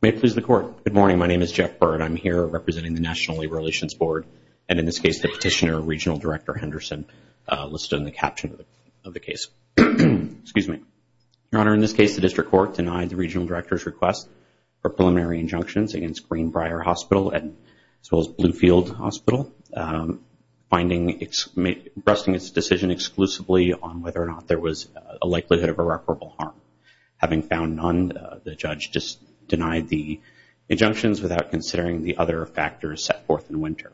May it please the Court, good morning, my name is Jeff Byrd, I'm here representing the National Labor Relations Board, and in this case the petitioner, Regional Director Henderson, listed in the caption of the case. Your Honor, in this case the District Court denied the Regional Director's request for preliminary injunctions against Greenbrier Hospital as well as Bluefield Hospital, resting its decision exclusively on whether or not there was a likelihood of irreparable harm. Having found none, the judge just denied the injunctions without considering the other factors set forth in Winter.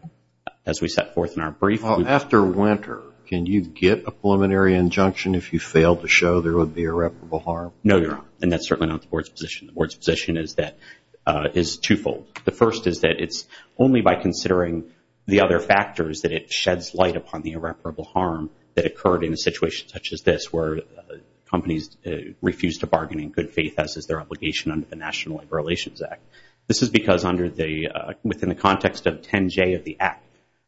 As we set forth in our brief... After Winter, can you get a preliminary injunction if you fail to show there would be irreparable harm? No, Your Honor, and that's certainly not the Board's position. The Board's position is twofold. The first is that it's only by considering the other factors that it sheds light upon the irreparable harm that occurred in a situation such as this where companies refused to bargain in good faith as is their obligation under the National Labor Relations Act. This is because under the... Within the context of 10J of the Act,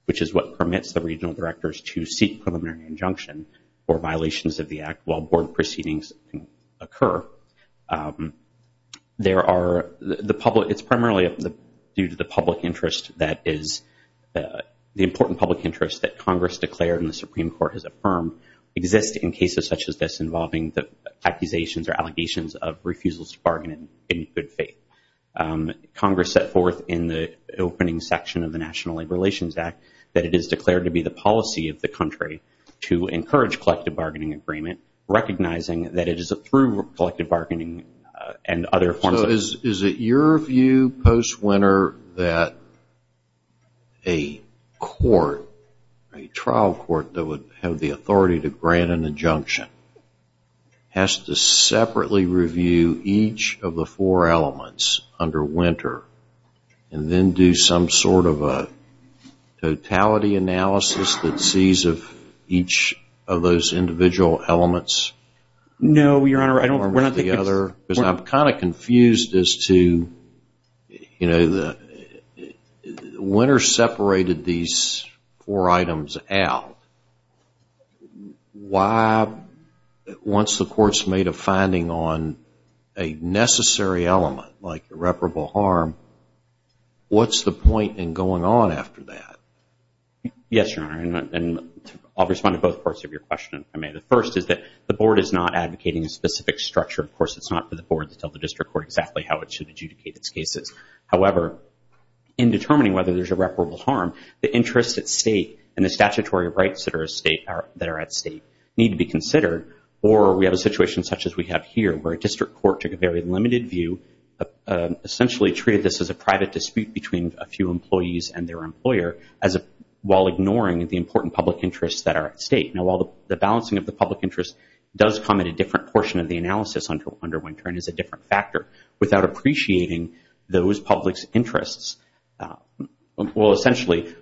which is what permits the Regional Directors to seek preliminary injunction for violations of the Act while Board proceedings occur, there are... The public... It's primarily due to the public interest that is... ...declared and the Supreme Court has affirmed exist in cases such as this involving the accusations or allegations of refusals to bargain in good faith. Congress set forth in the opening section of the National Labor Relations Act that it is declared to be the policy of the country to encourage collective bargaining agreement recognizing that it is through collective bargaining and other forms of... Federal court that would have the authority to grant an injunction has to separately review each of the four elements under Winter and then do some sort of a totality analysis that sees if each of those individual elements... No, Your Honor. I don't... ...one or the other. Because I'm kind of confused as to, you know, the... ...calculated these four items out, why... Once the court's made a finding on a necessary element like irreparable harm, what's the point in going on after that? Yes, Your Honor, and I'll respond to both parts of your question if I may. The first is that the Board is not advocating a specific structure. Of course, it's not for the Board to tell the district court exactly how it should adjudicate its cases. However, in determining whether there's irreparable harm, the interest at state and the statutory rights that are at state need to be considered or we have a situation such as we have here where a district court took a very limited view, essentially treated this as a private dispute between a few employees and their employer while ignoring the important public interests that are at state. Now, while the balancing of the public interest does come at a different portion of the analysis under Winter and is a different factor, without appreciating those public's interests... Well, essentially,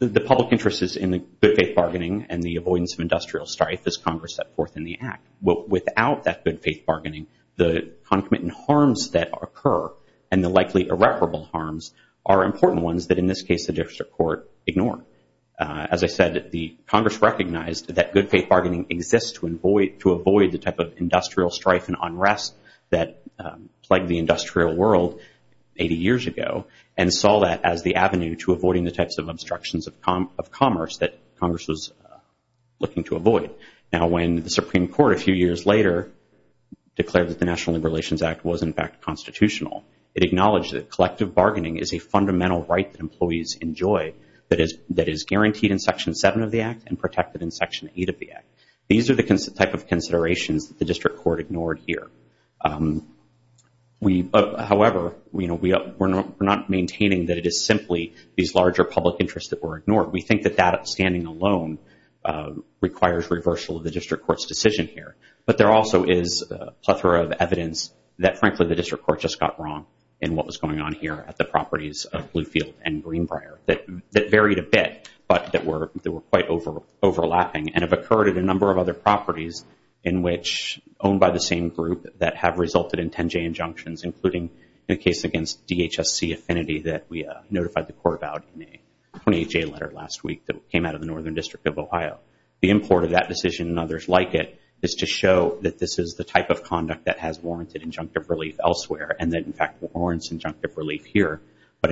the public interest is in the good-faith bargaining and the avoidance of industrial strife as Congress set forth in the Act. Without that good-faith bargaining, the concomitant harms that occur and the likely irreparable harms are important ones that, in this case, the district court ignored. As I said, the Congress recognized that good-faith bargaining exists to avoid the type of industrial strife and unrest that plagued the industrial world 80 years ago and saw that as the avenue to avoiding the types of obstructions of commerce that Congress was looking to avoid. Now, when the Supreme Court, a few years later, declared that the National Labor Relations Act was, in fact, constitutional, it acknowledged that collective bargaining is a fundamental right that employees enjoy that is guaranteed in Section 7 of the Act and protected in Section 8 of the Act. These are the types of considerations that the district court ignored here. However, we're not maintaining that it is simply these larger public interests that were ignored. We think that that standing alone requires reversal of the district court's decision here, but there also is a plethora of evidence that, frankly, the district court just got wrong in what was going on here at the properties of Bluefield and Greenbrier that varied a and have occurred at a number of other properties owned by the same group that have resulted in 10-J injunctions, including the case against DHSC Affinity that we notified the court about in a 20-J letter last week that came out of the Northern District of Ohio. The import of that decision and others like it is to show that this is the type of conduct that has warranted injunctive relief elsewhere and that, in fact, warrants injunctive relief here. But,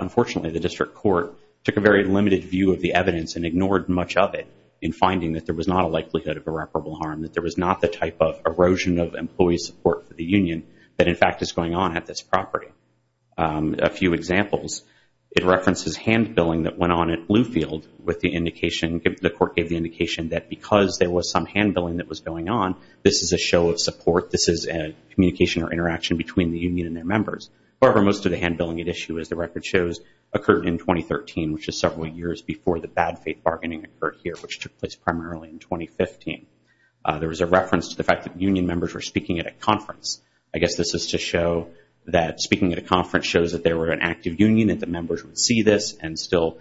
unfortunately, the district court took a very limited view of the evidence and ignored much of it in finding that there was not a likelihood of irreparable harm, that there was not the type of erosion of employee support for the union that, in fact, is going on at this property. A few examples, it references hand-billing that went on at Bluefield with the indication that the court gave the indication that because there was some hand-billing that was going on, this is a show of support, this is a communication or interaction between the union and their members. However, most of the hand-billing at issue, as the record shows, occurred in 2013, which is where the bad faith bargaining occurred here, which took place primarily in 2015. There was a reference to the fact that union members were speaking at a conference. I guess this is to show that speaking at a conference shows that there were an active union, that the members would see this and still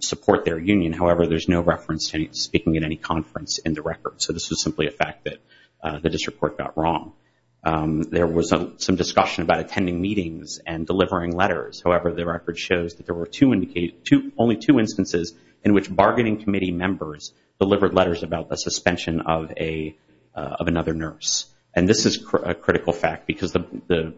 support their union. However, there's no reference to speaking at any conference in the record. So this is simply a fact that the district court got wrong. There was some discussion about attending meetings and delivering letters. However, the record shows that there were only two instances in which bargaining committee members delivered letters about the suspension of another nurse. And this is a critical fact because the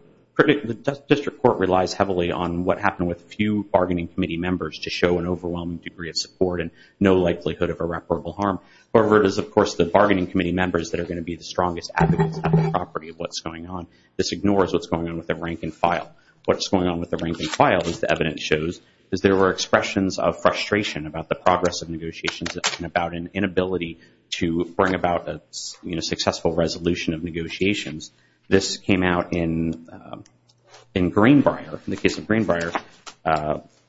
district court relies heavily on what happened with few bargaining committee members to show an overwhelming degree of support and no likelihood of irreparable harm. However, it is, of course, the bargaining committee members that are going to be the strongest advocates at the property of what's going on. This ignores what's going on with the rank and file. What's going on with the rank and file, as the evidence shows, is there were expressions of frustration about the progress of negotiations and about an inability to bring about a successful resolution of negotiations. This came out in Greenbrier, in the case of Greenbrier,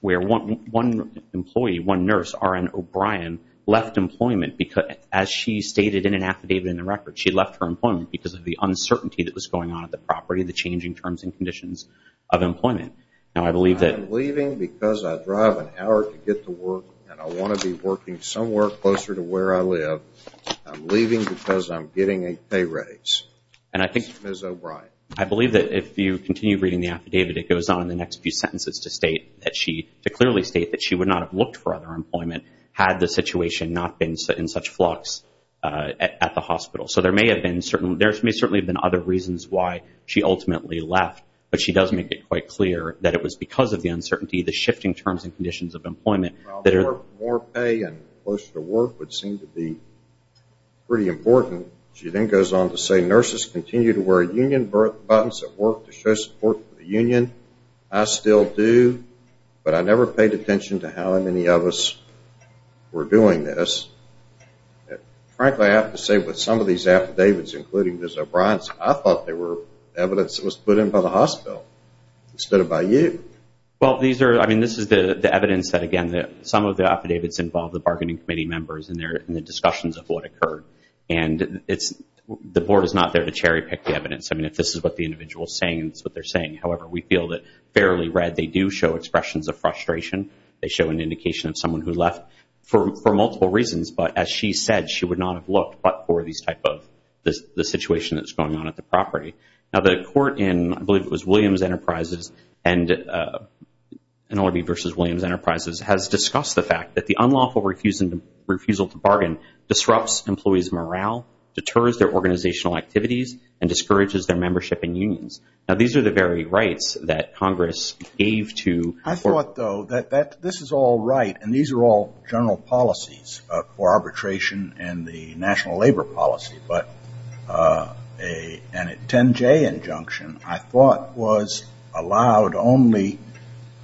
where one employee, one nurse, R.N. O'Brien, left employment because, as she stated in an affidavit in the record, she left her employment because of the uncertainty that was going on at the property, the changing terms and conditions of employment. Now I believe that... I'm leaving because I drive an hour to get to work and I want to be working somewhere closer to where I live. I'm leaving because I'm getting a pay raise. And I think... Ms. O'Brien. I believe that if you continue reading the affidavit, it goes on in the next few sentences to state that she, to clearly state that she would not have looked for other employment had the situation not been in such flux at the hospital. So there may have been certain... There may certainly have been other reasons why she ultimately left, but she does make it quite clear that it was because of the uncertainty, the shifting terms and conditions of employment that... Well, more pay and closer to work would seem to be pretty important. She then goes on to say nurses continue to wear union buttons at work to show support for the union. I still do, but I never paid attention to how many of us were doing this. Frankly, I have to say with some of these affidavits, including Ms. O'Brien's, I thought they were evidence that was put in by the hospital instead of by you. Well, these are... I mean, this is the evidence that, again, some of the affidavits involve the bargaining committee members and the discussions of what occurred. And the board is not there to cherry pick the evidence. I mean, if this is what the individual is saying, it's what they're saying. However, we feel that fairly read, they do show expressions of frustration. They show an indication of someone who left for multiple reasons. But as she said, she would not have looked but for this type of situation that's going on at the property. Now, the court in, I believe it was Williams Enterprises and NLRB versus Williams Enterprises has discussed the fact that the unlawful refusal to bargain disrupts employees' morale, deters their organizational activities, and discourages their membership in unions. Now, these are the very rights that Congress gave to... I thought, though, that this is all right, and these are all general policies for arbitration and the national labor policy, but a 10-J injunction, I thought, was allowed only,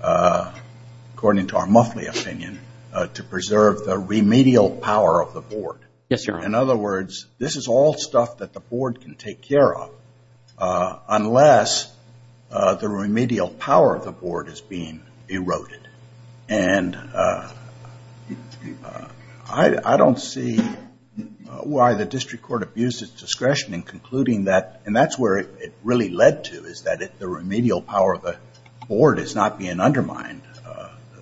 according to our Muffley opinion, to preserve the remedial power of the board. Yes, Your Honor. In other words, this is all stuff that the board can take care of unless the remedial power of the board is being eroded. And I don't see why the district court abused its discretion in concluding that, and that's where it really led to, is that the remedial power of the board is not being undermined.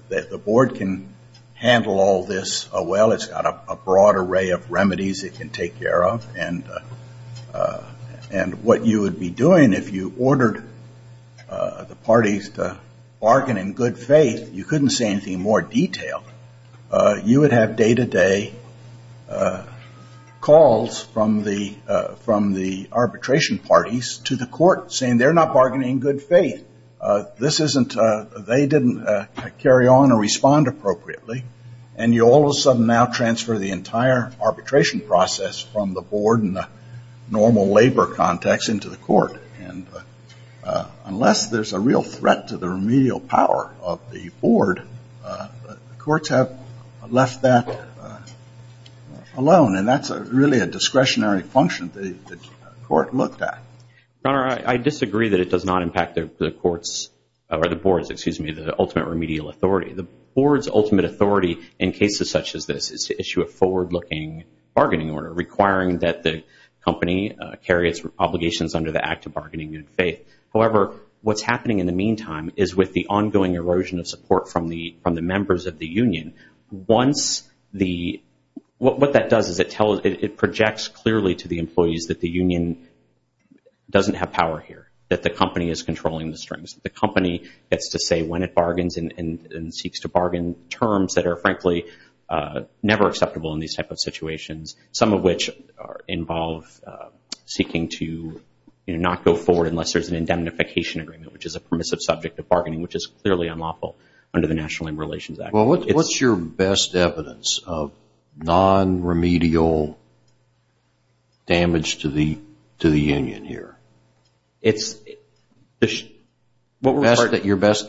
The board can handle all this well. It's got a broad array of remedies it can take care of, and what you would be doing if you ordered the parties to bargain in good faith, you couldn't say anything more detailed. You would have day-to-day calls from the arbitration parties to the court saying they're not bargaining in good faith. This isn't... They didn't carry on or respond appropriately, and you all of a sudden now transfer the entire And unless there's a real threat to the remedial power of the board, the courts have left that alone, and that's really a discretionary function the court looked at. Your Honor, I disagree that it does not impact the courts, or the boards, excuse me, the ultimate remedial authority. The board's ultimate authority in cases such as this is to issue a forward-looking bargaining order requiring that the company carry its obligations under the act of bargaining in good faith. However, what's happening in the meantime is with the ongoing erosion of support from the members of the union, what that does is it projects clearly to the employees that the union doesn't have power here, that the company is controlling the strings. The company gets to say when it bargains and seeks to bargain terms that are frankly never acceptable in these type of situations, some of which involve seeking to not go forward unless there's an indemnification agreement, which is a permissive subject of bargaining, which is clearly unlawful under the National Labor Relations Act. Well, what's your best evidence of non-remedial damage to the union here? It's... Your best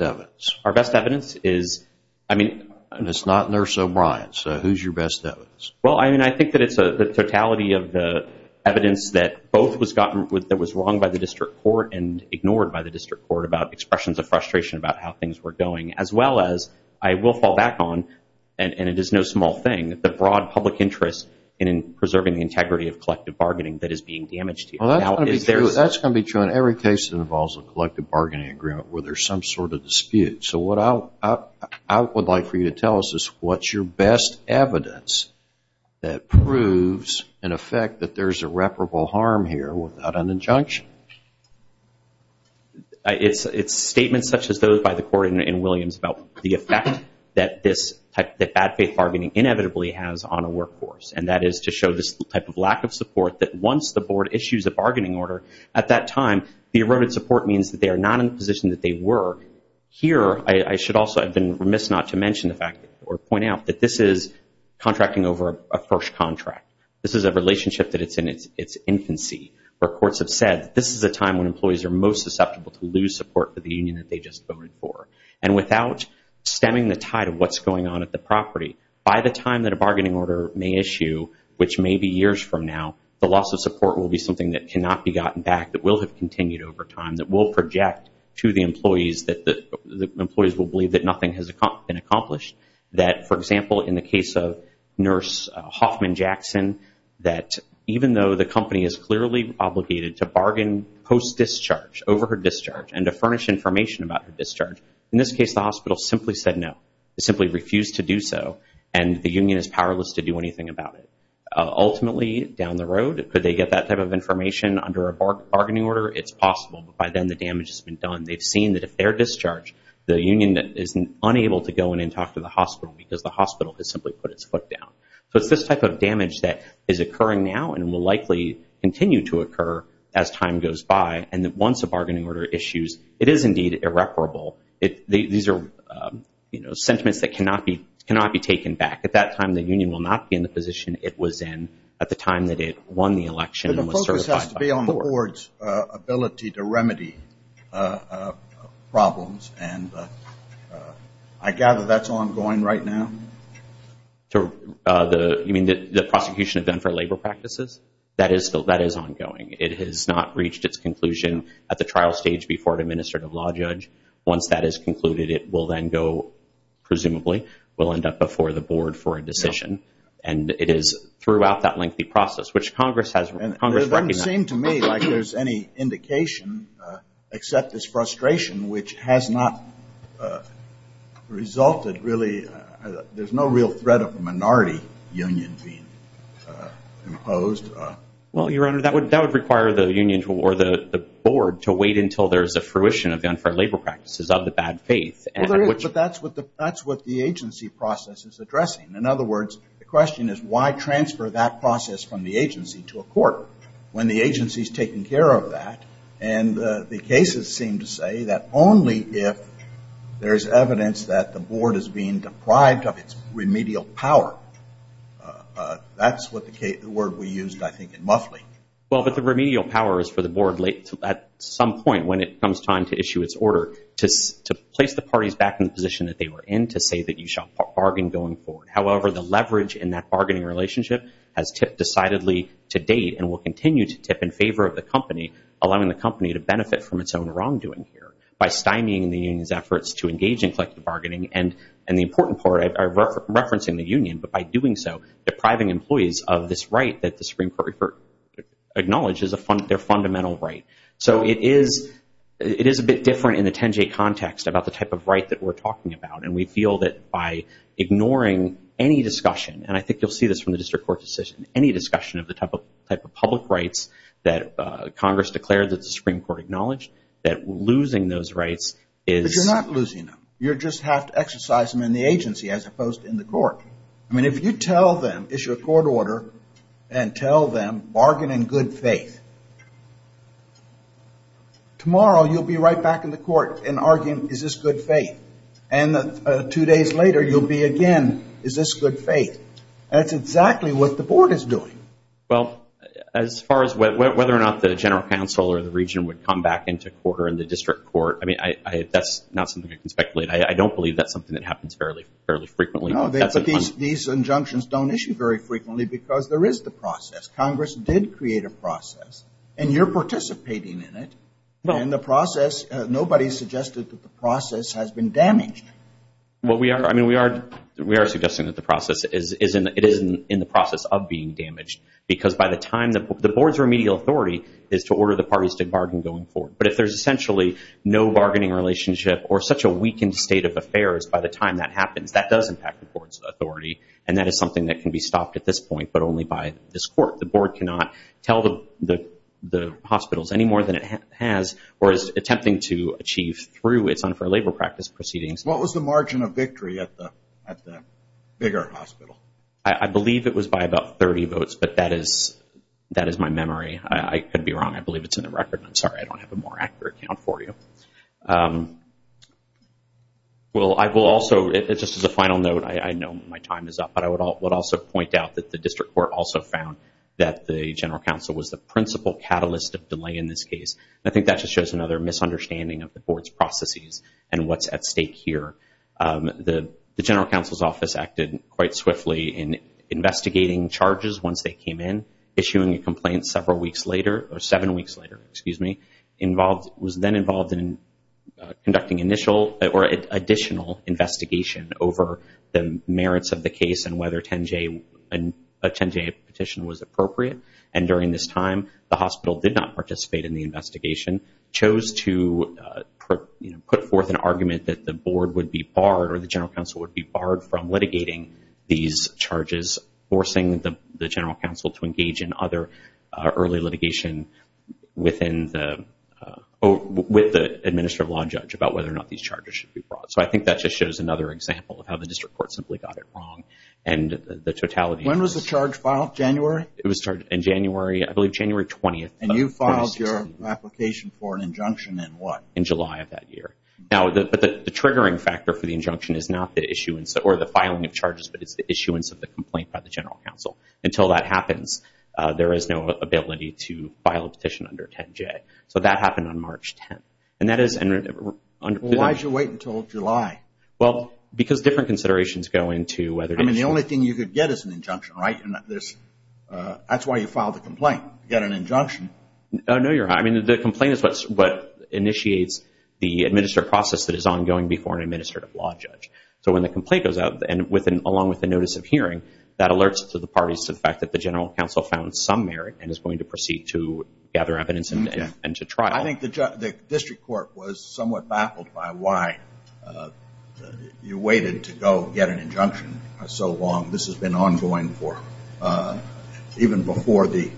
evidence? Our best evidence is, I mean... And it's not Nurse O'Brien, so who's your best evidence? Well, I mean, I think that it's the totality of the evidence that both was wrong by the district court and ignored by the district court about expressions of frustration about how things were going, as well as I will fall back on, and it is no small thing, the broad public interest in preserving the integrity of collective bargaining that is being damaged here. Well, that's going to be true. That's going to be true in every case that involves a collective bargaining agreement where there's some sort of dispute. So what I would like for you to tell us is what's your best evidence that proves, in effect, that there's irreparable harm here without an injunction? It's statements such as those by the court in Williams about the effect that bad faith bargaining inevitably has on a workforce, and that is to show this type of lack of support that once the board issues a bargaining order, at that time, the eroded support means that they are not in the position that they were. Here I should also have been remiss not to mention the fact or point out that this is contracting over a first contract. This is a relationship that it's in its infancy where courts have said this is a time when employees are most susceptible to lose support for the union that they just voted for. And without stemming the tide of what's going on at the property, by the time that a bargaining order may issue, which may be years from now, the loss of support will be something that the employees will believe that nothing has been accomplished. That for example, in the case of nurse Hoffman Jackson, that even though the company is clearly obligated to bargain post-discharge, over her discharge, and to furnish information about her discharge, in this case, the hospital simply said no, simply refused to do so, and the union is powerless to do anything about it. Ultimately, down the road, could they get that type of information under a bargaining order? It's possible. By then, the damage has been done. They've seen that if they're discharged, the union is unable to go in and talk to the hospital because the hospital has simply put its foot down. So it's this type of damage that is occurring now and will likely continue to occur as time goes by, and that once a bargaining order issues, it is indeed irreparable. These are, you know, sentiments that cannot be taken back. At that time, the union will not be in the position it was in at the time that it won the election and was certified by the board. It is the board's ability to remedy problems, and I gather that's ongoing right now? You mean the prosecution of Denver Labor Practices? That is ongoing. It has not reached its conclusion at the trial stage before an administrative law judge. Once that is concluded, it will then go, presumably, will end up before the board for a decision, and it is throughout that lengthy process, which Congress has recognized. It doesn't seem to me like there's any indication, except this frustration, which has not resulted really. There's no real threat of a minority union being imposed. Well, Your Honor, that would require the union or the board to wait until there's a fruition of the unfair labor practices of the bad faith. Well, there is, but that's what the agency process is addressing. In other words, the question is why transfer that process from the agency to a court when the agency is taking care of that, and the cases seem to say that only if there's evidence that the board is being deprived of its remedial power. That's the word we used, I think, in Muffley. Well, but the remedial power is for the board, at some point when it comes time to issue its order, to place the parties back in the position that they were in to say that you shall bargain going forward. However, the leverage in that bargaining relationship has tipped decidedly to date and will continue to tip in favor of the company, allowing the company to benefit from its own wrongdoing here, by stymieing the union's efforts to engage in collective bargaining, and the important part, I'm referencing the union, but by doing so, depriving employees of this right that the Supreme Court acknowledges their fundamental right. So it is a bit different in the 10-J context about the type of right that we're talking about, and we feel that by ignoring any discussion, and I think you'll see this from the district court decision, any discussion of the type of public rights that Congress declared that the Supreme Court acknowledged, that losing those rights is- But you're not losing them. You just have to exercise them in the agency, as opposed to in the court. I mean, if you tell them, issue a court order, and tell them, bargain in good faith, tomorrow you'll be right back in the court and arguing, is this good faith? And two days later, you'll be again, is this good faith? That's exactly what the board is doing. Well, as far as whether or not the general counsel or the region would come back into court or in the district court, I mean, that's not something I can speculate. I don't believe that's something that happens fairly frequently. No, these injunctions don't issue very frequently because there is the process. Congress did create a process, and you're participating in it, and the process, nobody suggested that the process has been damaged. Well, I mean, we are suggesting that the process, it isn't in the process of being damaged, because by the time, the board's remedial authority is to order the parties to bargain going forward. But if there's essentially no bargaining relationship or such a weakened state of affairs by the time that happens, that does impact the court's authority, and that is something that can be stopped at this point, but only by this court. The board cannot tell the hospitals any more than it has or is attempting to achieve through its unfair labor practice proceedings. What was the margin of victory at the Big Art Hospital? I believe it was by about 30 votes, but that is my memory. I could be wrong. I believe it's in the record. I'm sorry, I don't have a more accurate count for you. Well, I will also, just as a final note, I know my time is up, but I would also point out that the district court also found that the general counsel was the principal catalyst of delay in this case. The general counsel's office acted quite swiftly in investigating charges once they came in, issuing a complaint several weeks later, or seven weeks later, excuse me, was then involved in conducting initial or additional investigation over the merits of the case and whether a 10-J petition was appropriate. And during this time, the hospital did not participate in the investigation, chose to put forth an argument that the board would be barred or the general counsel would be barred from litigating these charges, forcing the general counsel to engage in other early litigation with the administrative law judge about whether or not these charges should be brought. So I think that just shows another example of how the district court simply got it wrong and the totality. When was the charge filed? January? It was charged in January, I believe January 20th. And you filed your application for an injunction in what? In July of that year. Now, but the triggering factor for the injunction is not the issuance or the filing of charges, but it's the issuance of the complaint by the general counsel. Until that happens, there is no ability to file a petition under 10-J. So that happened on March 10th. And that is... Well, why did you wait until July? Well, because different considerations go into whether... I mean, the only thing you could get is an injunction, right? That's why you filed the complaint, get an injunction. No, I mean, the complaint is what initiates the administrative process that is ongoing before an administrative law judge. So when the complaint goes out, and along with the notice of hearing, that alerts to the parties to the fact that the general counsel found some merit and is going to proceed to gather evidence and to trial. I think the district court was somewhat baffled by why you waited to go get an injunction so long. This has been ongoing even before the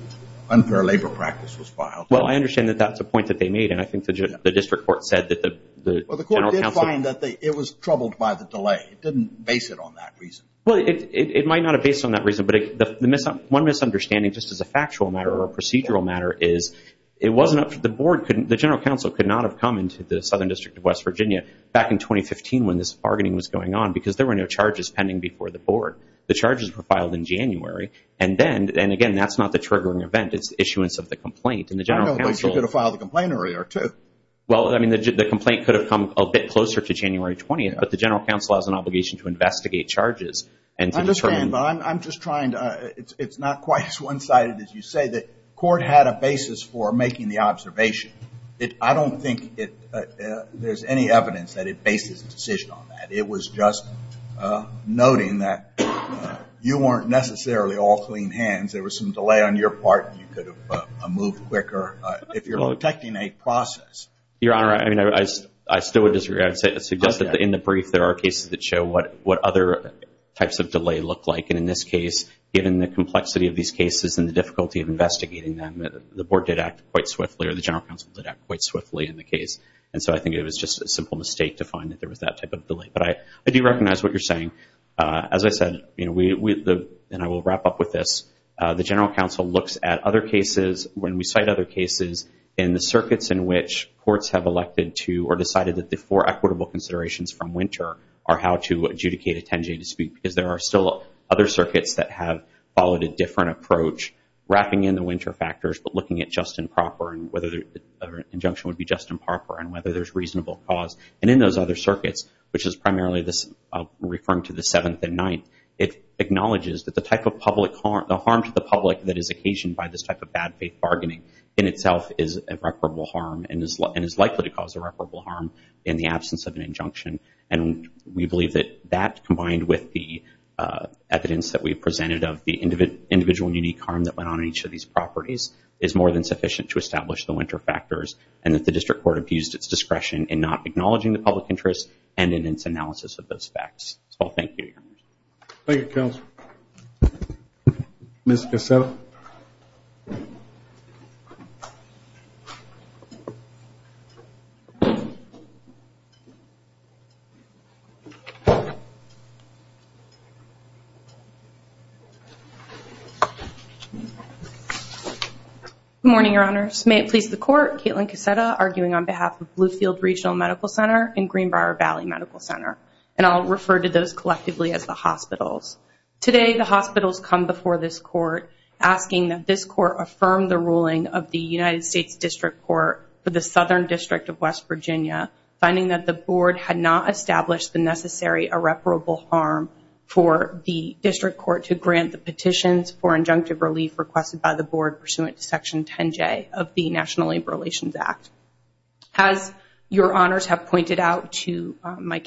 unfair labor practice was filed. Well, I understand that that's a point that they made, and I think the district court said that the general counsel... Well, the court did find that it was troubled by the delay. It didn't base it on that reason. Well, it might not have based on that reason, but one misunderstanding, just as a factual matter or a procedural matter, is it wasn't up to the board. The general counsel could not have come into the Southern District of West Virginia back in 2015 when this bargaining was going on because there were no charges pending before the board. The charges were filed in January, and again, that's not the triggering event. It's the issuance of the complaint, and the general counsel... I don't think she could have filed the complaint earlier, too. Well, I mean, the complaint could have come a bit closer to January 20th, but the general counsel has an obligation to investigate charges and to determine... I understand, but I'm just trying to... It's not quite as one-sided as you say that court had a basis for making the observation. I don't think there's any evidence that it bases the decision on that. It was just noting that you weren't necessarily all clean hands. There was some delay on your part, and you could have moved quicker if you're protecting a process. Your Honor, I still would disagree. I would suggest that in the brief, there are cases that show what other types of delay look like, and in this case, given the complexity of these cases and the difficulty of investigating them, the board did act quite swiftly or the general counsel did act quite swiftly in the case, and so I think it was just a simple mistake to find that there was that type of delay. But I do recognize what you're saying. As I said, and I will wrap up with this, the general counsel looks at other cases when we cite other cases in the circuits in which courts have elected to or decided that the four equitable considerations from winter are how to adjudicate a 10-J dispute because there are still other circuits that have followed a different approach, wrapping in the winter factors but looking at just and proper and whether an injunction would be just and proper and whether there's reasonable cause. And in those other circuits, which is primarily referring to the Seventh and Ninth, it acknowledges that the harm to the public that is occasioned by this type of bad faith bargaining in itself is a reparable harm and is likely to cause a reparable harm in the absence of an injunction. And we believe that that, combined with the evidence that we presented of the individual and unique harm that went on in each of these properties, is more than sufficient to establish the winter factors and that the District Court abused its discretion in not acknowledging the public interest and in its analysis of those facts. So I'll thank you, Your Honor. Thank you, Counsel. Ms. Gacetta? Good morning, Your Honors. May it please the Court, Caitlin Gacetta, arguing on behalf of Bluefield Regional Medical Center and Greenbrier Valley Medical Center. And I'll refer to those collectively as the hospitals. Today, the hospitals come before this Court asking that this Court affirm the ruling of the United States District Court for the Southern District of West Virginia, finding that the Board had not established the necessary irreparable harm for the District Court to grant the petitions for injunctive relief requested by the Board pursuant to Section 10J of the National Labor Relations Act. As Your Honors have pointed out to my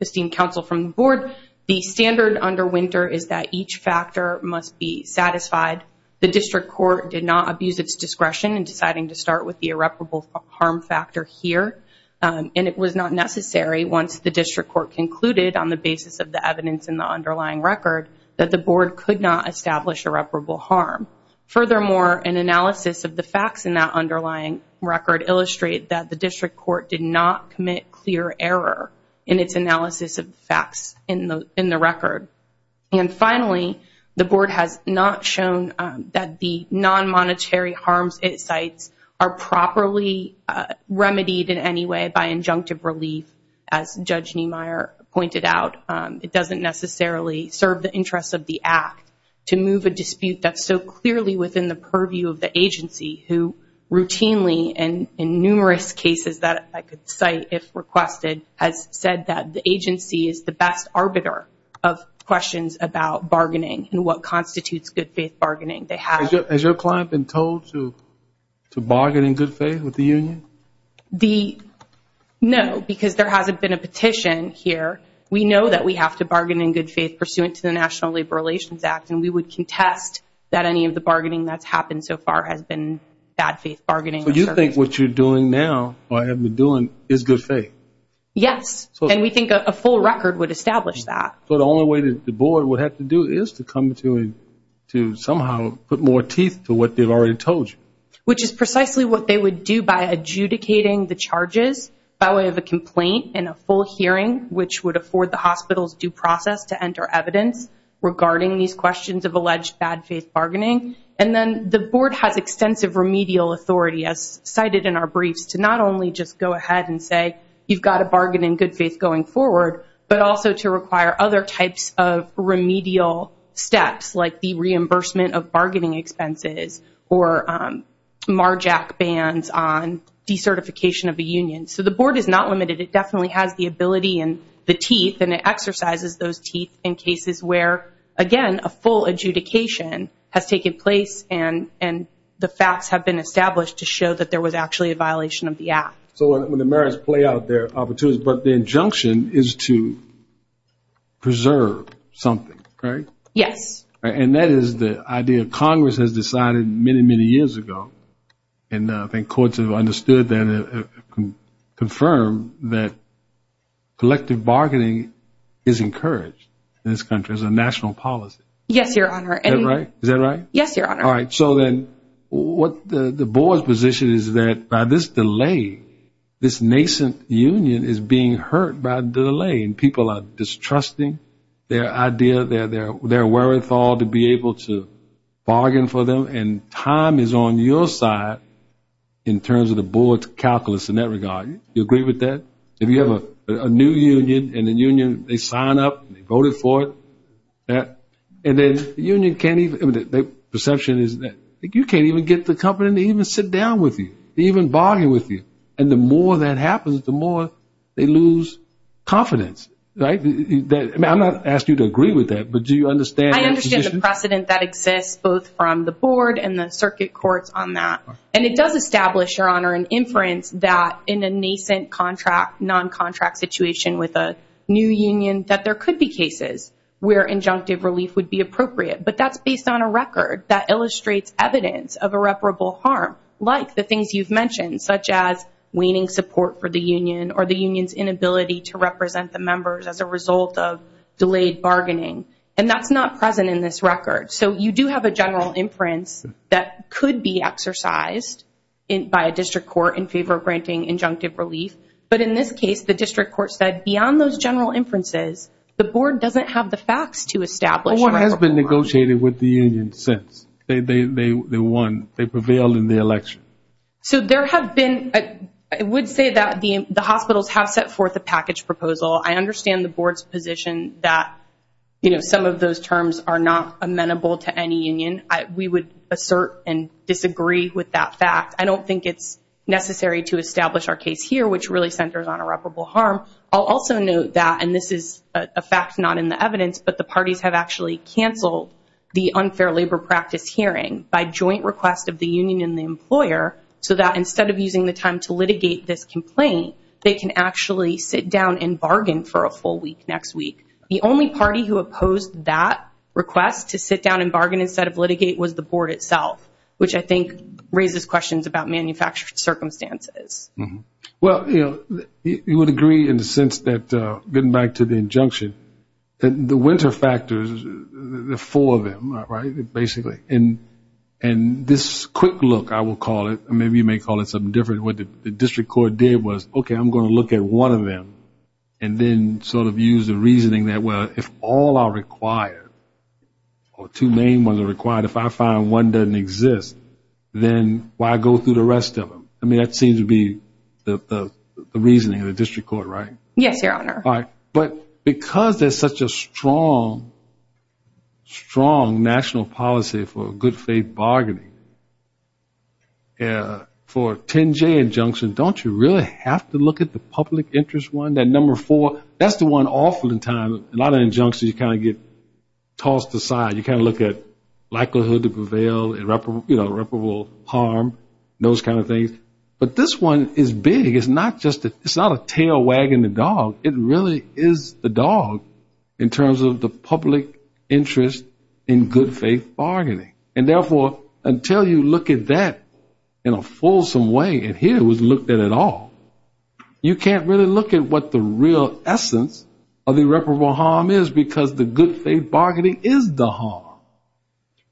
esteemed counsel from the Board, the standard under winter is that each factor must be satisfied. The District Court did not abuse its discretion in deciding to start with the irreparable harm factor here. And it was not necessary, once the District Court concluded on the basis of the evidence in the underlying record, that the Board could not establish irreparable harm. Furthermore, an analysis of the facts in that underlying record illustrate that the District Court did not commit clear error in its analysis of facts in the record. And finally, the Board has not shown that the non-monetary harms it cites are properly remedied in any way by injunctive relief, as Judge Niemeyer pointed out. It doesn't necessarily serve the interests of the Act to move a dispute that's so clearly within the purview of the agency, who routinely, and in numerous cases that I could cite if requested, has said that the agency is the best arbiter of questions about bargaining and what constitutes good-faith bargaining. Has your client been told to bargain in good faith with the union? No, because there hasn't been a petition here. We know that we have to bargain in good faith pursuant to the National Labor Relations Act, and we would contest that any of the bargaining that's happened so far has been bad-faith bargaining. So you think what you're doing now, or have been doing, is good faith? Yes, and we think a full record would establish that. So the only way that the Board would have to do is to come to somehow put more teeth to what they've already told you? Which is precisely what they would do by adjudicating the charges by way of a complaint and a full hearing, which would afford the hospital's due process to enter evidence regarding these questions of alleged bad-faith bargaining. And then the Board has extensive remedial authority, as cited in our briefs, to not only just go ahead and say, you've got to bargain in good faith going forward, but also to require other types of remedial steps, like the reimbursement of bargaining expenses or MARJAC bans on decertification of a union. So the Board is not limited. It definitely has the ability and the teeth, and it exercises those teeth in cases where, again, a full adjudication has taken place and the facts have been established to show that there was actually a violation of the act. So when the merits play out, there are opportunities. But the injunction is to preserve something, right? Yes. And that is the idea Congress has decided many, many years ago. And I think courts have understood and confirmed that collective bargaining is encouraged in this country as a national policy. Yes, Your Honor. Is that right? Yes, Your Honor. All right. So then the Board's position is that by this delay, this nascent union is being hurt by delay, and people are distrusting their idea, their wherewithal to be able to bargain for them, and time is on your side in terms of the Board's calculus in that regard. Do you agree with that? If you have a new union, and the union, they sign up, they voted for it, and then the union can't even – their perception is that you can't even get the company to even sit down with you, to even bargain with you. And the more that happens, the more they lose confidence, right? I'm not asking you to agree with that, but do you understand that position? Precedent that exists both from the Board and the circuit courts on that. And it does establish, Your Honor, an inference that in a nascent contract, non-contract situation with a new union, that there could be cases where injunctive relief would be appropriate. But that's based on a record that illustrates evidence of irreparable harm, like the things you've mentioned, such as waning support for the union or the union's inability to represent the members as a result of delayed bargaining. And that's not present in this record. So you do have a general inference that could be exercised by a district court in favor of granting injunctive relief. But in this case, the district court said beyond those general inferences, the Board doesn't have the facts to establish irreparable harm. No one has been negotiating with the union since they won, they prevailed in the election. So there have been – I would say that the hospitals have set forth a package proposal. I understand the Board's position that, you know, some of those terms are not amenable to any union. We would assert and disagree with that fact. I don't think it's necessary to establish our case here, which really centers on irreparable harm. I'll also note that, and this is a fact not in the evidence, but the parties have actually canceled the unfair labor practice hearing by joint request of the union and the employer so that instead of using the time to litigate this complaint, they can actually sit down and bargain for a full week next week. The only party who opposed that request to sit down and bargain instead of litigate was the Board itself, which I think raises questions about manufactured circumstances. Mm-hmm. Well, you know, you would agree in the sense that, getting back to the injunction, the winter factors, the four of them, right, basically, and this quick look, I will call it, maybe you may call it something different, what the district court did was, okay, I'm going to look at one of them and then sort of use the reasoning that, well, if all are required, or two main ones are required, if I find one doesn't exist, then why go through the rest of them? I mean, that seems to be the reasoning of the district court, right? Yes, Your Honor. All right. But because there's such a strong, strong national policy for good faith bargaining, for a 10-J injunction, don't you really have to look at the public interest one, that number four? That's the one often times, a lot of injunctions, you kind of get tossed aside. You kind of look at likelihood to prevail, irreparable harm, those kind of things. But this one is big. It's not just a tail wagging the dog. It really is the dog in terms of the public interest in good faith bargaining. And therefore, until you look at that in a fulsome way, and here it was looked at at all, you can't really look at what the real essence of irreparable harm is because the good faith bargaining is the harm.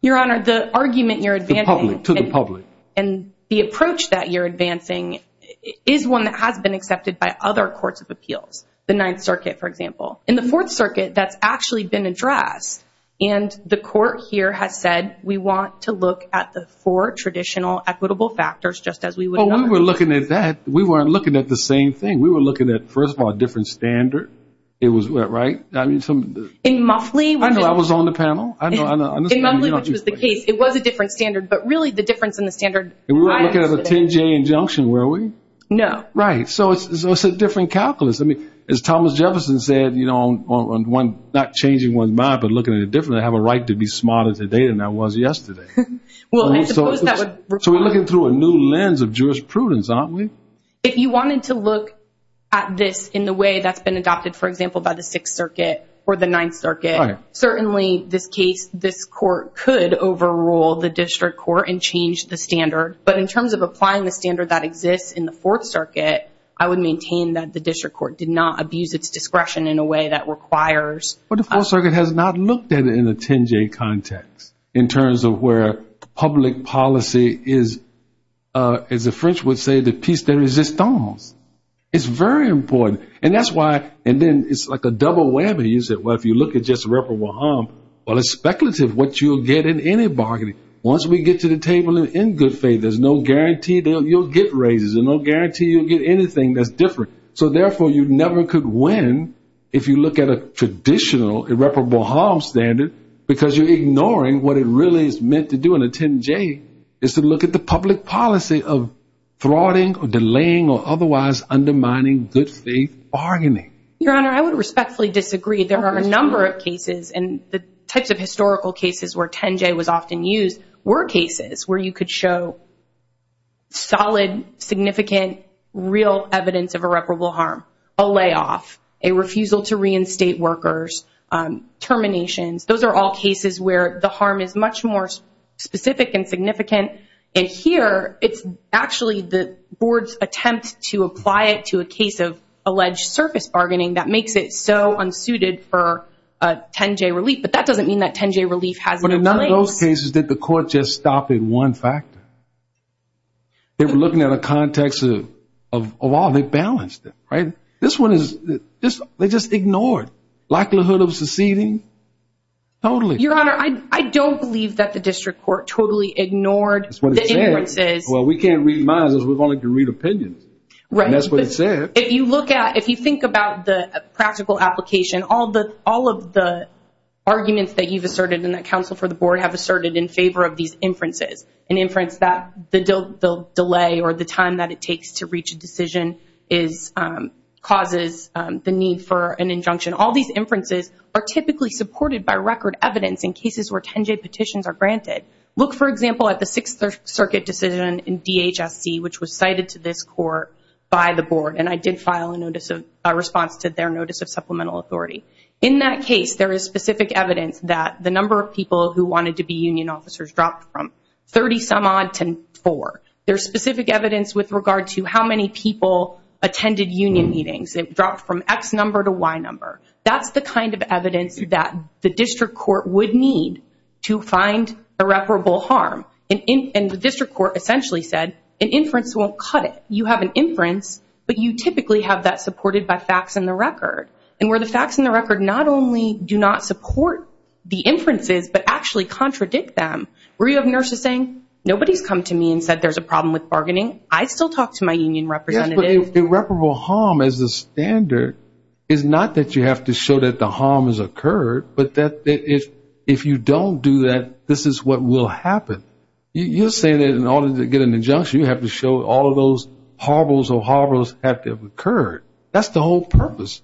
Your Honor, the argument you're advancing- The public, to the public. And the approach that you're advancing is one that has been accepted by other courts of appeals, the Ninth Circuit, for example. In the Fourth Circuit, that's actually been addressed. And the court here has said, we want to look at the four traditional equitable factors, just as we would- Well, we were looking at that. We weren't looking at the same thing. We were looking at, first of all, a different standard. It was, right? In Muffley- I know, I was on the panel. I know, I know. In Muffley, which was the case, it was a different standard. But really, the difference in the standard- And we weren't looking at a 10-J injunction, were we? No. Right. So it's a different calculus. As Thomas Jefferson said, not changing one's mind, but looking at it differently, I have a right to be smarter today than I was yesterday. So we're looking through a new lens of jurisprudence, aren't we? If you wanted to look at this in the way that's been adopted, for example, by the Sixth Circuit or the Ninth Circuit, certainly this case, this court could overrule the district court and change the standard. But in terms of applying the standard that exists in the Fourth Circuit, I would maintain that the district court did not abuse its discretion in a way that requires- But the Fourth Circuit has not looked at it in a 10-J context, in terms of where public policy is, as the French would say, the piece de resistance. It's very important. And that's why- And then it's like a double whammy. You said, well, if you look at just Rep. Waham, well, it's speculative what you'll get in any bargaining. Once we get to the table in good faith, there's no guarantee you'll get raises. There's no guarantee you'll get anything that's different. So therefore, you never could win if you look at a traditional irreparable harm standard, because you're ignoring what it really is meant to do in a 10-J, is to look at the public policy of thwarting or delaying or otherwise undermining good faith bargaining. Your Honor, I would respectfully disagree. There are a number of cases, and the types of historical cases where 10-J was often used were cases where you could show solid, significant, real evidence of irreparable harm, a layoff, a refusal to reinstate workers, terminations. Those are all cases where the harm is much more specific and significant. And here, it's actually the board's attempt to apply it to a case of alleged surface bargaining that makes it so unsuited for 10-J relief. But that doesn't mean that 10-J relief has no place. In those cases, did the court just stop at one factor? They were looking at a context of all. They balanced it, right? This one is, they just ignored. Likelihood of seceding, totally. Your Honor, I don't believe that the district court totally ignored the inferences. Well, we can't read minds. We only can read opinions. Right. And that's what it said. If you look at, if you think about the practical application, all of the arguments that you've asserted in favor of these inferences, an inference that the delay or the time that it takes to reach a decision causes the need for an injunction, all these inferences are typically supported by record evidence in cases where 10-J petitions are granted. Look, for example, at the Sixth Circuit decision in DHSC, which was cited to this court by the board. And I did file a response to their notice of supplemental authority. In that case, there is specific evidence that the number of people who wanted to be union officers dropped from 30-some-odd to 4. There's specific evidence with regard to how many people attended union meetings. It dropped from X number to Y number. That's the kind of evidence that the district court would need to find irreparable harm. And the district court essentially said, an inference won't cut it. You have an inference, but you typically have that supported by facts and the record. And where the facts and the record not only do not support the inferences, but actually contradict them, where you have nurses saying, nobody's come to me and said there's a problem with bargaining. I still talk to my union representative. Yes, but irreparable harm as a standard is not that you have to show that the harm has occurred, but that if you don't do that, this is what will happen. You're saying that in order to get an injunction, you have to show all of those horribles or horribles have to have occurred. That's the whole purpose.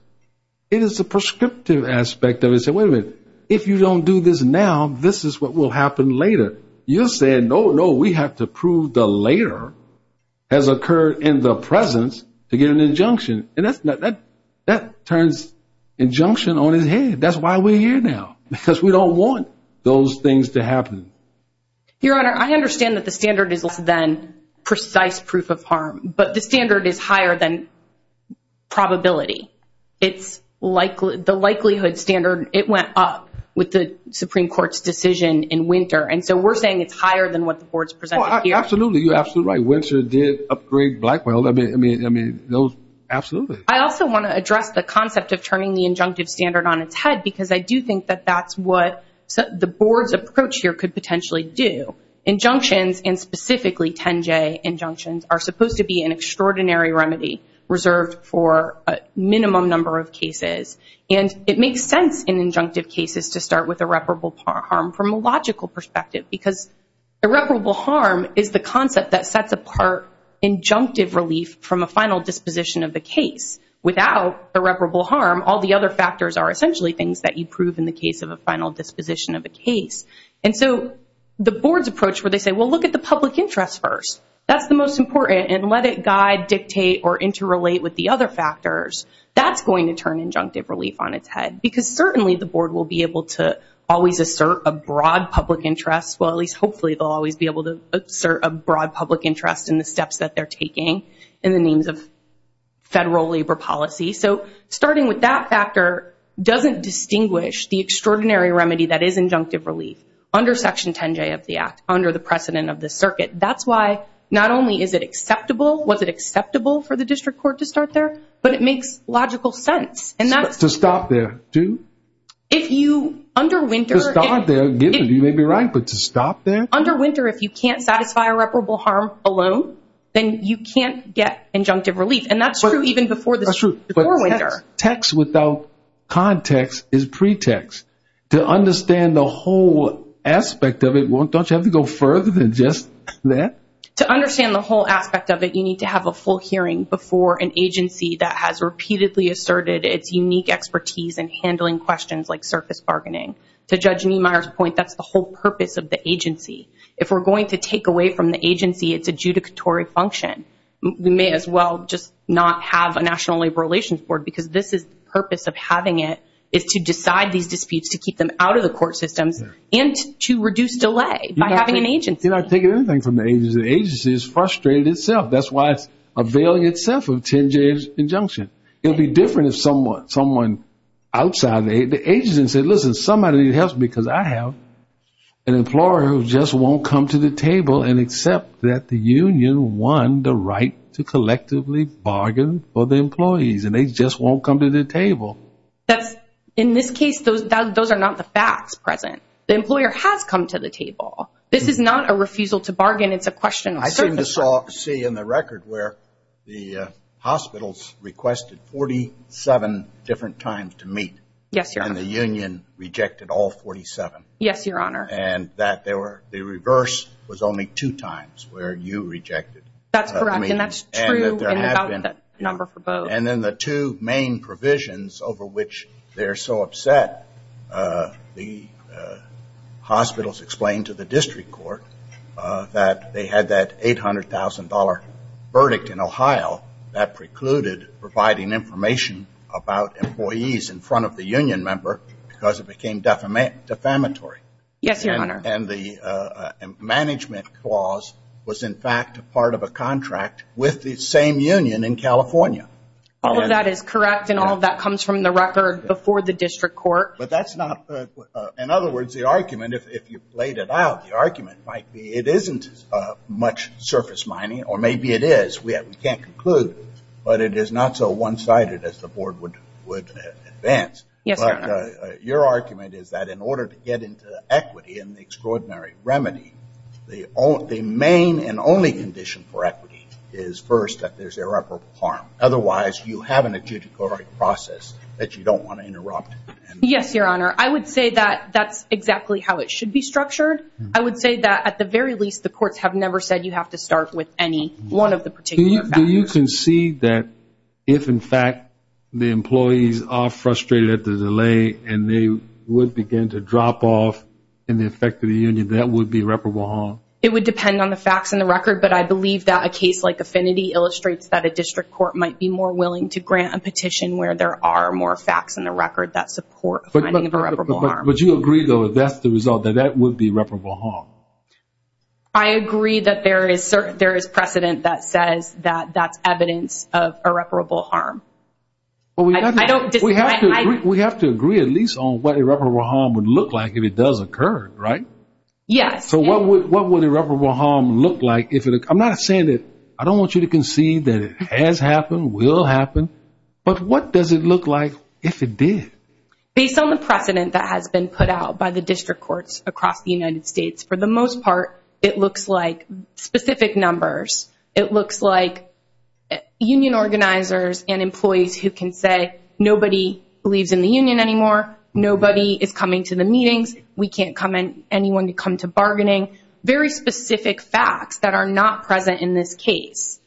It is a prescriptive aspect of it. Say, wait a minute, if you don't do this now, this is what will happen later. You're saying, no, no, we have to prove the later has occurred in the presence to get an injunction. And that turns injunction on his head. That's why we're here now, because we don't want those things to happen. Your Honor, I understand that the standard is less than precise proof of harm, but the probability, the likelihood standard, it went up with the Supreme Court's decision in Winter. And so we're saying it's higher than what the Board's presented here. Absolutely. You're absolutely right. Winter did upgrade Blackwell. I mean, absolutely. I also want to address the concept of turning the injunctive standard on its head, because I do think that that's what the Board's approach here could potentially do. Injunctions, and specifically 10J injunctions, are supposed to be an extraordinary remedy reserved for a minimum number of cases. And it makes sense in injunctive cases to start with irreparable harm from a logical perspective, because irreparable harm is the concept that sets apart injunctive relief from a final disposition of the case. Without irreparable harm, all the other factors are essentially things that you prove in the case of a final disposition of a case. And so the Board's approach where they say, well, look at the public interest first. That's the most important. And let it guide, dictate, or interrelate with the other factors. That's going to turn injunctive relief on its head, because certainly the Board will be able to always assert a broad public interest. Well, at least hopefully they'll always be able to assert a broad public interest in the steps that they're taking in the names of federal labor policy. So starting with that factor doesn't distinguish the extraordinary remedy that is injunctive relief under Section 10J of the Act, under the precedent of the circuit. That's why not only is it acceptable, was it acceptable for the district court to start there, but it makes logical sense. And that's to stop there, too. If you underwinter... To start there, you may be right, but to stop there? Underwinter, if you can't satisfy irreparable harm alone, then you can't get injunctive relief. And that's true even before the... That's true. But text without context is pretext. To understand the whole aspect of it, don't you have to go further than just that? To understand the whole aspect of it, you need to have a full hearing before an agency that has repeatedly asserted its unique expertise in handling questions like surface bargaining. To Judge Niemeyer's point, that's the whole purpose of the agency. If we're going to take away from the agency its adjudicatory function, we may as well just not have a National Labor Relations Board, because this is the purpose of having it, is to decide these disputes, to keep them out of the court systems, and to reduce delay by having an agency. You're not taking anything from the agency. The agency is frustrated itself. That's why it's a valiant self-intended injunction. It'll be different if someone outside the agency said, listen, somebody helps me because I have an employer who just won't come to the table and accept that the union won the right to collectively bargain for the employees, and they just won't come to the table. That's, in this case, those are not the facts present. The employer has come to the table. This is not a refusal to bargain. It's a question of service. I seem to see in the record where the hospitals requested 47 different times to meet. Yes, Your Honor. And the union rejected all 47. Yes, Your Honor. And that they were, the reverse was only two times where you rejected. That's correct, and that's true, and about the number for both. And then the two main provisions over which they're so upset, the hospitals explained to the district court that they had that $800,000 verdict in Ohio that precluded providing information about employees in front of the union member because it became defamatory. Yes, Your Honor. And the management clause was, in fact, part of a contract with the same union in California. That is correct, and all of that comes from the record before the district court. But that's not, in other words, the argument, if you played it out, the argument might be it isn't much surface mining, or maybe it is. We can't conclude, but it is not so one-sided as the board would advance. Yes, Your Honor. Your argument is that in order to get into equity and the extraordinary remedy, the main and only condition for equity is first that there's irreparable harm. Otherwise, you have an adjudicatory process that you don't want to interrupt. Yes, Your Honor. I would say that that's exactly how it should be structured. I would say that at the very least, the courts have never said you have to start with any one of the particular factors. Do you concede that if, in fact, the employees are frustrated at the delay, and they would begin to drop off in the effect of the union, that would be irreparable harm? It would depend on the facts and the record, but I believe that a case like Affinity illustrates that a district court might be more willing to grant a petition where there are more facts and a record that support finding irreparable harm. But you agree, though, that that's the result, that that would be irreparable harm? I agree that there is precedent that says that that's evidence of irreparable harm. We have to agree at least on what irreparable harm would look like if it does occur, right? Yes. So what would irreparable harm look like if it... I'm not saying that I don't want you to concede that it has happened, will happen, but what does it look like if it did? Based on the precedent that has been put out by the district courts across the United States, for the most part, it looks like specific numbers. It looks like union organizers and employees who can say, nobody believes in the union anymore. Nobody is coming to the meetings. We can't come in, anyone to come to bargaining. Very specific facts that are not present in this case.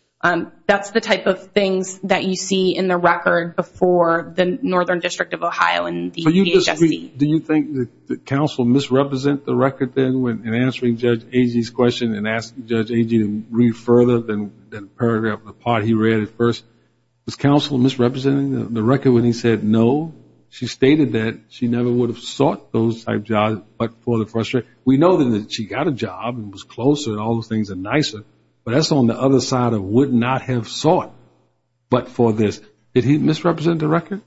That's the type of things that you see in the record before the Northern District of Ohio and the DHSC. Do you think that counsel misrepresent the record then in answering Judge Agee's question and asking Judge Agee to read further than the paragraph, the part he read at first? Was counsel misrepresenting the record when he said no? She stated that she never would have sought those type jobs but for the frustration. We know that she got a job and was closer and all those things are nicer, but that's on the other side of would not have sought but for this. Did he misrepresent the record?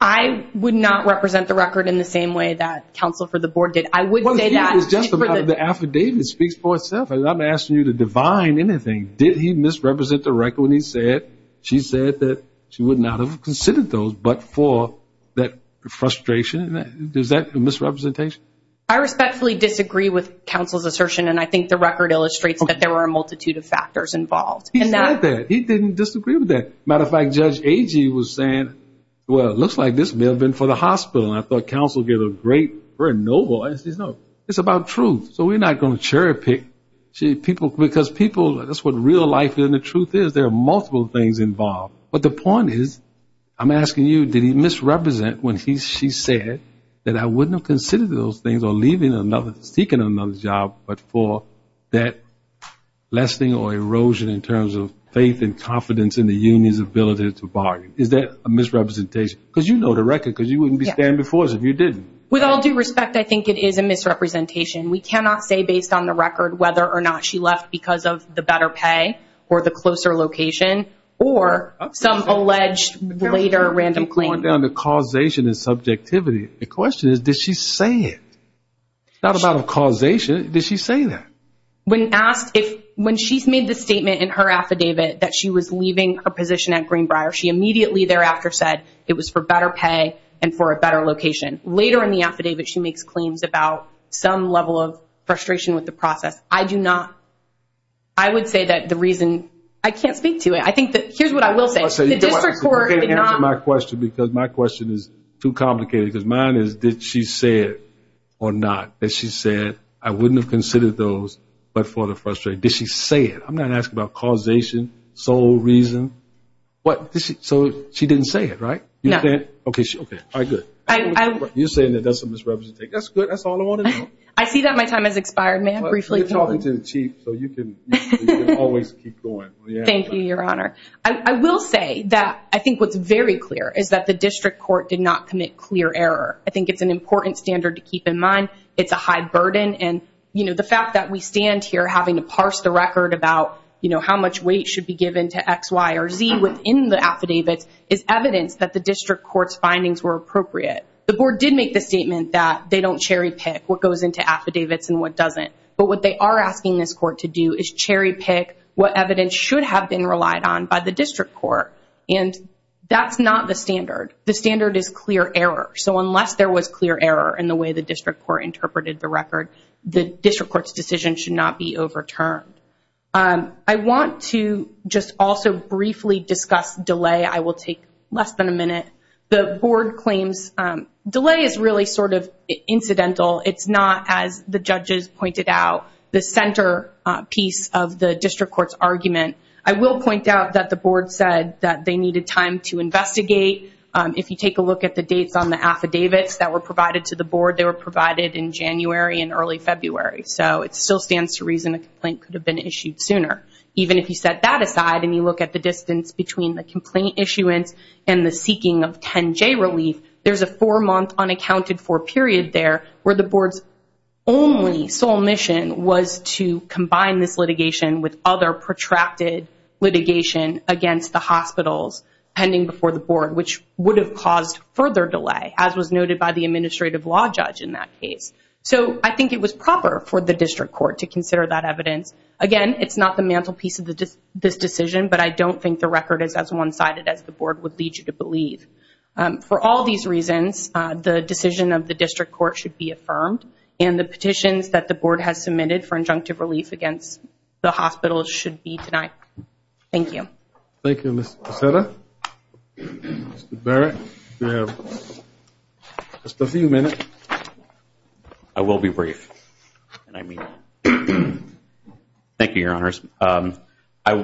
I would not represent the record in the same way that counsel for the board did. I would say that. It's just about the affidavit speaks for itself. I'm asking you to divine anything. Did he misrepresent the record when he said, she said that she would not have considered those but for that frustration? Is that a misrepresentation? I respectfully disagree with counsel's assertion, and I think the record illustrates that there were a multitude of factors involved. He said that. He didn't disagree with that. Matter of fact, Judge Agee was saying, well, it looks like this may have been for the hospital. And I thought counsel did a great, very noble. It's about truth. So we're not going to cherry pick people because people, that's what real life and the truth is. There are multiple things involved. But the point is, I'm asking you, did he misrepresent when she said that I wouldn't have considered those things or leaving another, seeking another job, but for that lessening or erosion in terms of faith and confidence in the union's ability to bargain? Is that a misrepresentation? Because you know the record because you wouldn't be standing before us if you didn't. With all due respect, I think it is a misrepresentation. We cannot say based on the record whether or not she left because of the better pay or the closer location or some alleged later random claim. Going down to causation and subjectivity. The question is, did she say it? Not about a causation. Did she say that? When she's made the statement in her affidavit that she was leaving a position at Greenbrier, she immediately thereafter said it was for better pay and for a better location. Later in the affidavit, she makes claims about some level of frustration with the process. I do not. I would say that the reason. I can't speak to it. I think that here's what I will say. My question because my question is too complicated because mine is, did she say it or not? That she said, I wouldn't have considered those, but for the frustration. Did she say it? I'm not asking about causation, sole reason. What? So she didn't say it, right? No. Okay, all right, good. You're saying that that's a misrepresentation. That's good. That's all I want to know. I see that my time has expired, ma'am. You're talking to the chief, so you can always keep going. Thank you, Your Honor. I will say that I think what's very clear is that the district court did not commit clear error. I think it's an important standard to keep in mind. It's a high burden. And the fact that we stand here having to parse the record about how much weight should be given to X, Y, or Z within the affidavits is evidence that the district court's findings were appropriate. The board did make the statement that they don't cherry pick what goes into affidavits and what doesn't. But what they are asking this court to do is cherry pick what evidence should have been relied on by the district court. And that's not the standard. The standard is clear error. So unless there was clear error in the way the district court interpreted the record, the district court's decision should not be overturned. I want to just also briefly discuss delay. I will take less than a minute. The board claims delay is really sort of incidental. It's not, as the judges pointed out, the centerpiece of the district court's argument. I will point out that the board said that they needed time to investigate. If you take a look at the dates on the affidavits that were provided to the board, they were provided in January and early February. So it still stands to reason a complaint could have been issued sooner. Even if you set that aside and you look at the distance between the complaint issuance and the seeking of 10-J relief, there's a four-month unaccounted-for period there where the board's only sole mission was to combine this litigation with other protracted litigation against the hospitals pending before the board, which would have caused further delay, as was noted by the administrative law judge in that case. So I think it was proper for the district court to consider that evidence. Again, it's not the mantelpiece of this decision, but I don't think the record is as one-sided as the board would lead you to believe. For all these reasons, the decision of the district court should be affirmed, and the petitions that the board has submitted for injunctive relief against the hospitals should be tonight. Thank you. Thank you, Ms. Becerra. Mr. Barrett, you have just a few minutes. I will be brief. Thank you, Your Honors.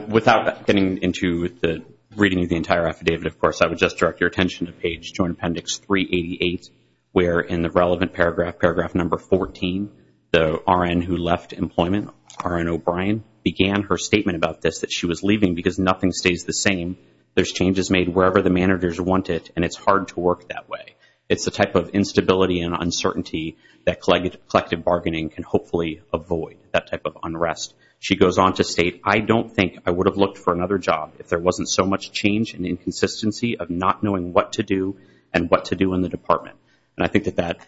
Without getting into the reading of the entire affidavit, of course, I would just direct your attention to page Joint Appendix 388, where in the relevant paragraph, paragraph number 14, the RN who left employment, R.N. O'Brien, began her statement about this, that she was leaving because nothing stays the same. There's changes made wherever the managers want it, and it's hard to work that way. It's the type of instability and uncertainty that collective bargaining can hopefully avoid, that type of unrest. She goes on to state, I don't think I would have looked for another job if there wasn't so much change and inconsistency of not knowing what to do and what to do in the department. And I think that that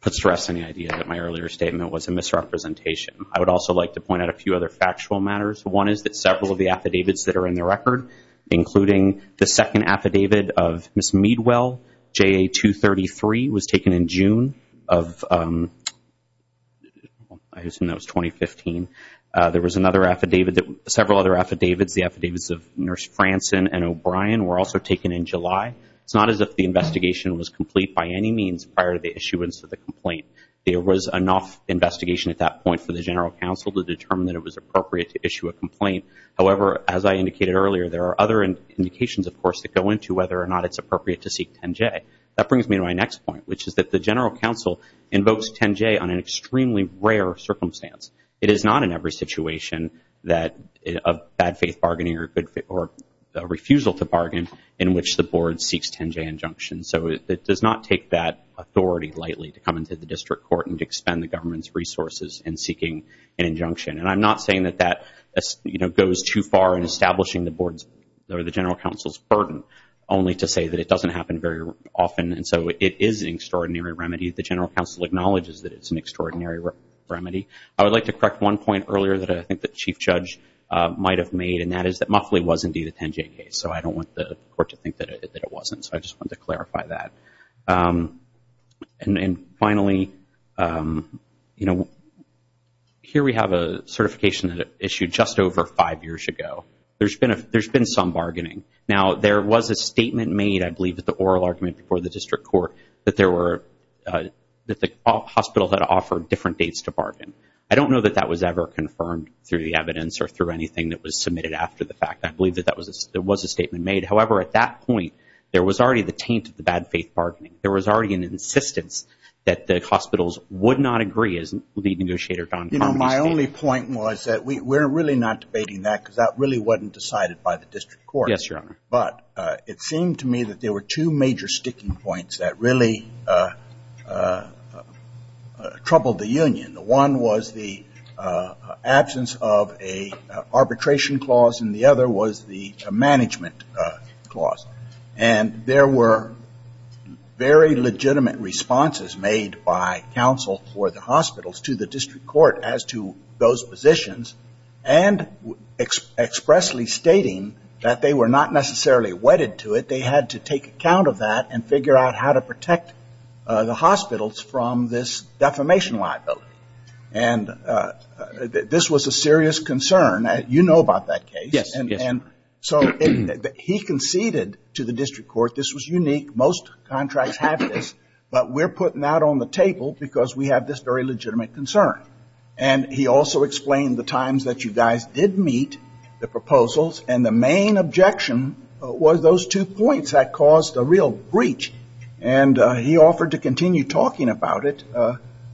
puts to rest any idea that my earlier statement was a misrepresentation. I would also like to point out a few other factual matters. One is that several of the affidavits that are in the record, including the second affidavit of Ms. Meadwell, J.A. 233, was taken in June of, I assume that was 2015. There was another affidavit that, several other affidavits, the affidavits of Nurse Franson and O'Brien were also taken in July. It's not as if the investigation was complete by any means prior to the issuance of the complaint. There was enough investigation at that point for the General Counsel to determine that it was appropriate to issue a complaint. However, as I indicated earlier, there are other indications, of course, that go into whether or not it's appropriate to seek 10J. That brings me to my next point, which is that the General Counsel invokes 10J on an extremely rare circumstance. It is not in every situation of bad faith bargaining or refusal to bargain in which the Board seeks 10J injunctions. So it does not take that authority lightly to come into the District Court and to expend the government's resources in seeking an injunction. And I'm not saying that that goes too far in establishing the Board's or the General Counsel's burden, only to say that it doesn't happen very often. And so it is an extraordinary remedy. The General Counsel acknowledges that it's an extraordinary remedy. I would like to correct one point earlier that I think the Chief Judge might have made, and that is that Muffley was indeed a 10J case. So I don't want the Court to think that it wasn't. So I just wanted to clarify that. And then finally, you know, here we have a certification that it issued just over five years ago. There's been some bargaining. Now, there was a statement made, I believe, at the oral argument before the District Court that the hospital had offered different dates to bargain. I don't know that that was ever confirmed through the evidence or through anything that was submitted after the fact. I believe that there was a statement made. However, at that point, there was already the taint of the bad faith bargaining. There was already an insistence that the hospitals would not agree, as Lead Negotiator Don Connolly stated. You know, my only point was that we're really not debating that because that really wasn't decided by the District Court. Yes, Your Honor. But it seemed to me that there were two major sticking points that really troubled the union. One was the absence of an arbitration clause, and the other was the management clause. And there were very legitimate responses made by counsel for the hospitals to the District Court as to those positions, and expressly stating that they were not necessarily wedded to it. They had to take account of that and figure out how to protect the hospitals from this defamation liability. And this was a serious concern. You know about that case. Yes. And so he conceded to the District Court this was unique. Most contracts have this. But we're putting that on the table because we have this very legitimate concern. And he also explained the times that you guys did meet the proposals. And the main objection was those two points that caused a real breach. And he offered to continue talking about it.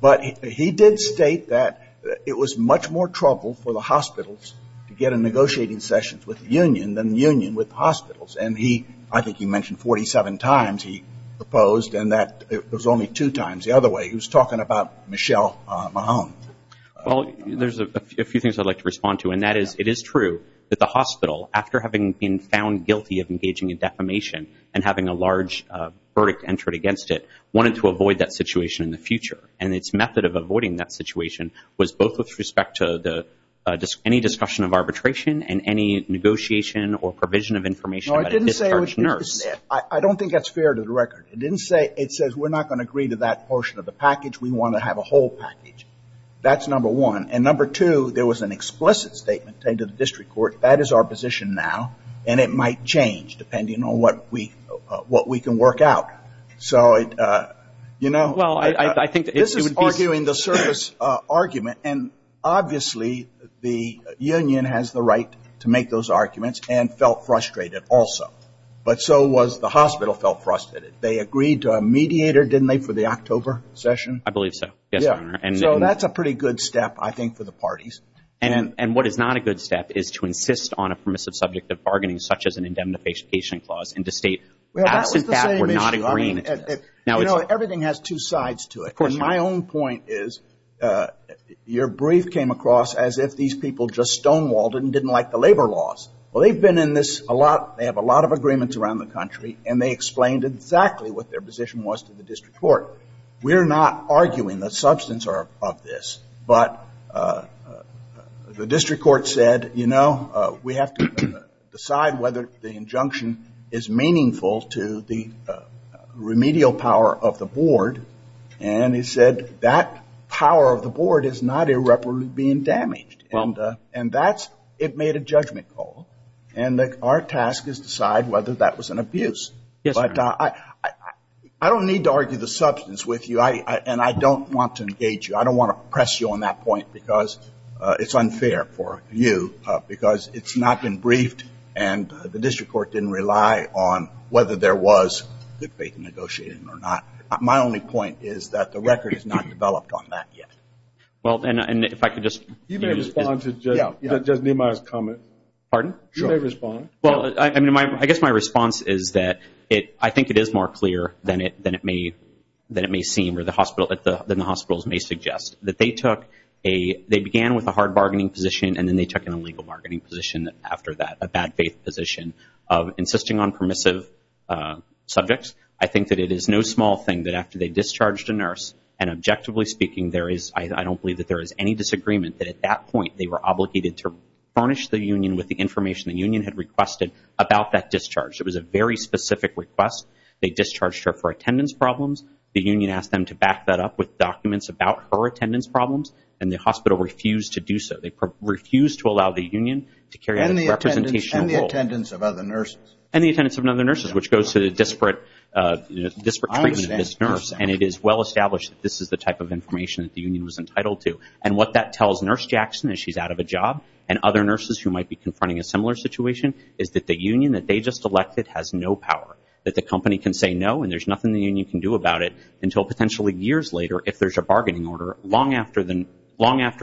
But he did state that it was much more trouble for the hospitals to get in negotiating sessions with the union than the union with the hospitals. And he, I think he mentioned 47 times he proposed, and that it was only two times. The other way, he was talking about Michelle Mahon. Well, there's a few things I'd like to respond to. And that is, it is true that the hospital, after having been found guilty of engaging in defamation and having a large verdict entered against it, wanted to avoid that situation in the future. And its method of avoiding that situation was both with respect to any discussion of arbitration and any negotiation or provision of information about a discharged nurse. I don't think that's fair to the record. It didn't say, it says we're not going to agree to that portion of the package. We want to have a whole package. That's number one. And number two, there was an explicit statement to the District Court. That is our position now. And it might change depending on what we can work out. So you know, this is arguing the service argument. And obviously, the union has the right to make those arguments and felt frustrated also. But so was the hospital felt frustrated. They agreed to a mediator, didn't they, for the October session? I believe so, yes, Your Honor. And so that's a pretty good step, I think, for the parties. And what is not a good step is to insist on a permissive subject of bargaining, such as an indemnification clause, and to state, absent that, we're not agreeing to this. Now it's the same issue. You know, everything has two sides to it. Of course, my own point is, your brief came across as if these people just stonewalled and didn't like the labor laws. Well, they've been in this a lot. They have a lot of agreements around the country. And they explained exactly what their position was to the District Court. We're not arguing the substance of this. But the District Court said, you know, we have to decide whether the injunction is meaningful to the remedial power of the board. And it said, that power of the board is not irreparably being damaged. And that's, it made a judgment call. And our task is to decide whether that was an abuse. But I don't need to argue the substance with you. And I don't want to engage you. I don't want to press you on that point, because it's unfair for you, because it's not been briefed. And the District Court didn't rely on whether there was good faith in negotiating or not. My only point is that the record is not developed on that yet. Well, and if I could just respond to just Nehemiah's comment. Pardon? You may respond. Well, I mean, I guess my response is that I think it is more clear than it may seem, or than the hospitals may suggest, that they began with a hard bargaining position. And then they took an illegal bargaining position after that, a bad faith position of insisting on permissive subjects. I think that it is no small thing that after they discharged a nurse, and objectively speaking, there is, I don't believe that there is any disagreement, that at that point, they were obligated to furnish the union with the information the union had requested about that discharge. It was a very specific request. They discharged her for attendance problems. The union asked them to back that up with documents about her attendance problems. And the hospital refused to do so. They refused to allow the union to carry out a representational role. And the attendance of other nurses. And the attendance of other nurses, which goes to the disparate treatment of this nurse. And it is well established that this is the type of information that the union was entitled to. And what that tells Nurse Jackson, as she's out of a job, and other nurses who might be confronting a similar situation, is that the union that they just elected has no power. That the company can say no, and there's nothing the union can do about it, until potentially years later, if there's a bargaining order, long after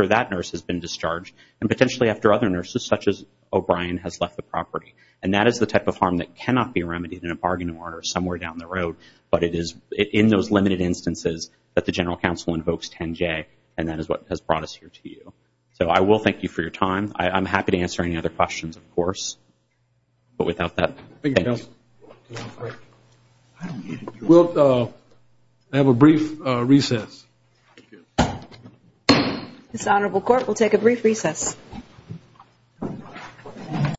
that nurse has been discharged, and potentially after other nurses, such as O'Brien, has left the property. And that is the type of harm that cannot be remedied in a bargaining order somewhere down the road. But it is in those limited instances that the General Counsel invokes 10-J. And that is what has brought us here to you. So I will thank you for your time. I'm happy to answer any other questions, of course. But without that, thank you. Thank you, Counsel. We'll have a brief recess. This Honorable Court will take a brief recess.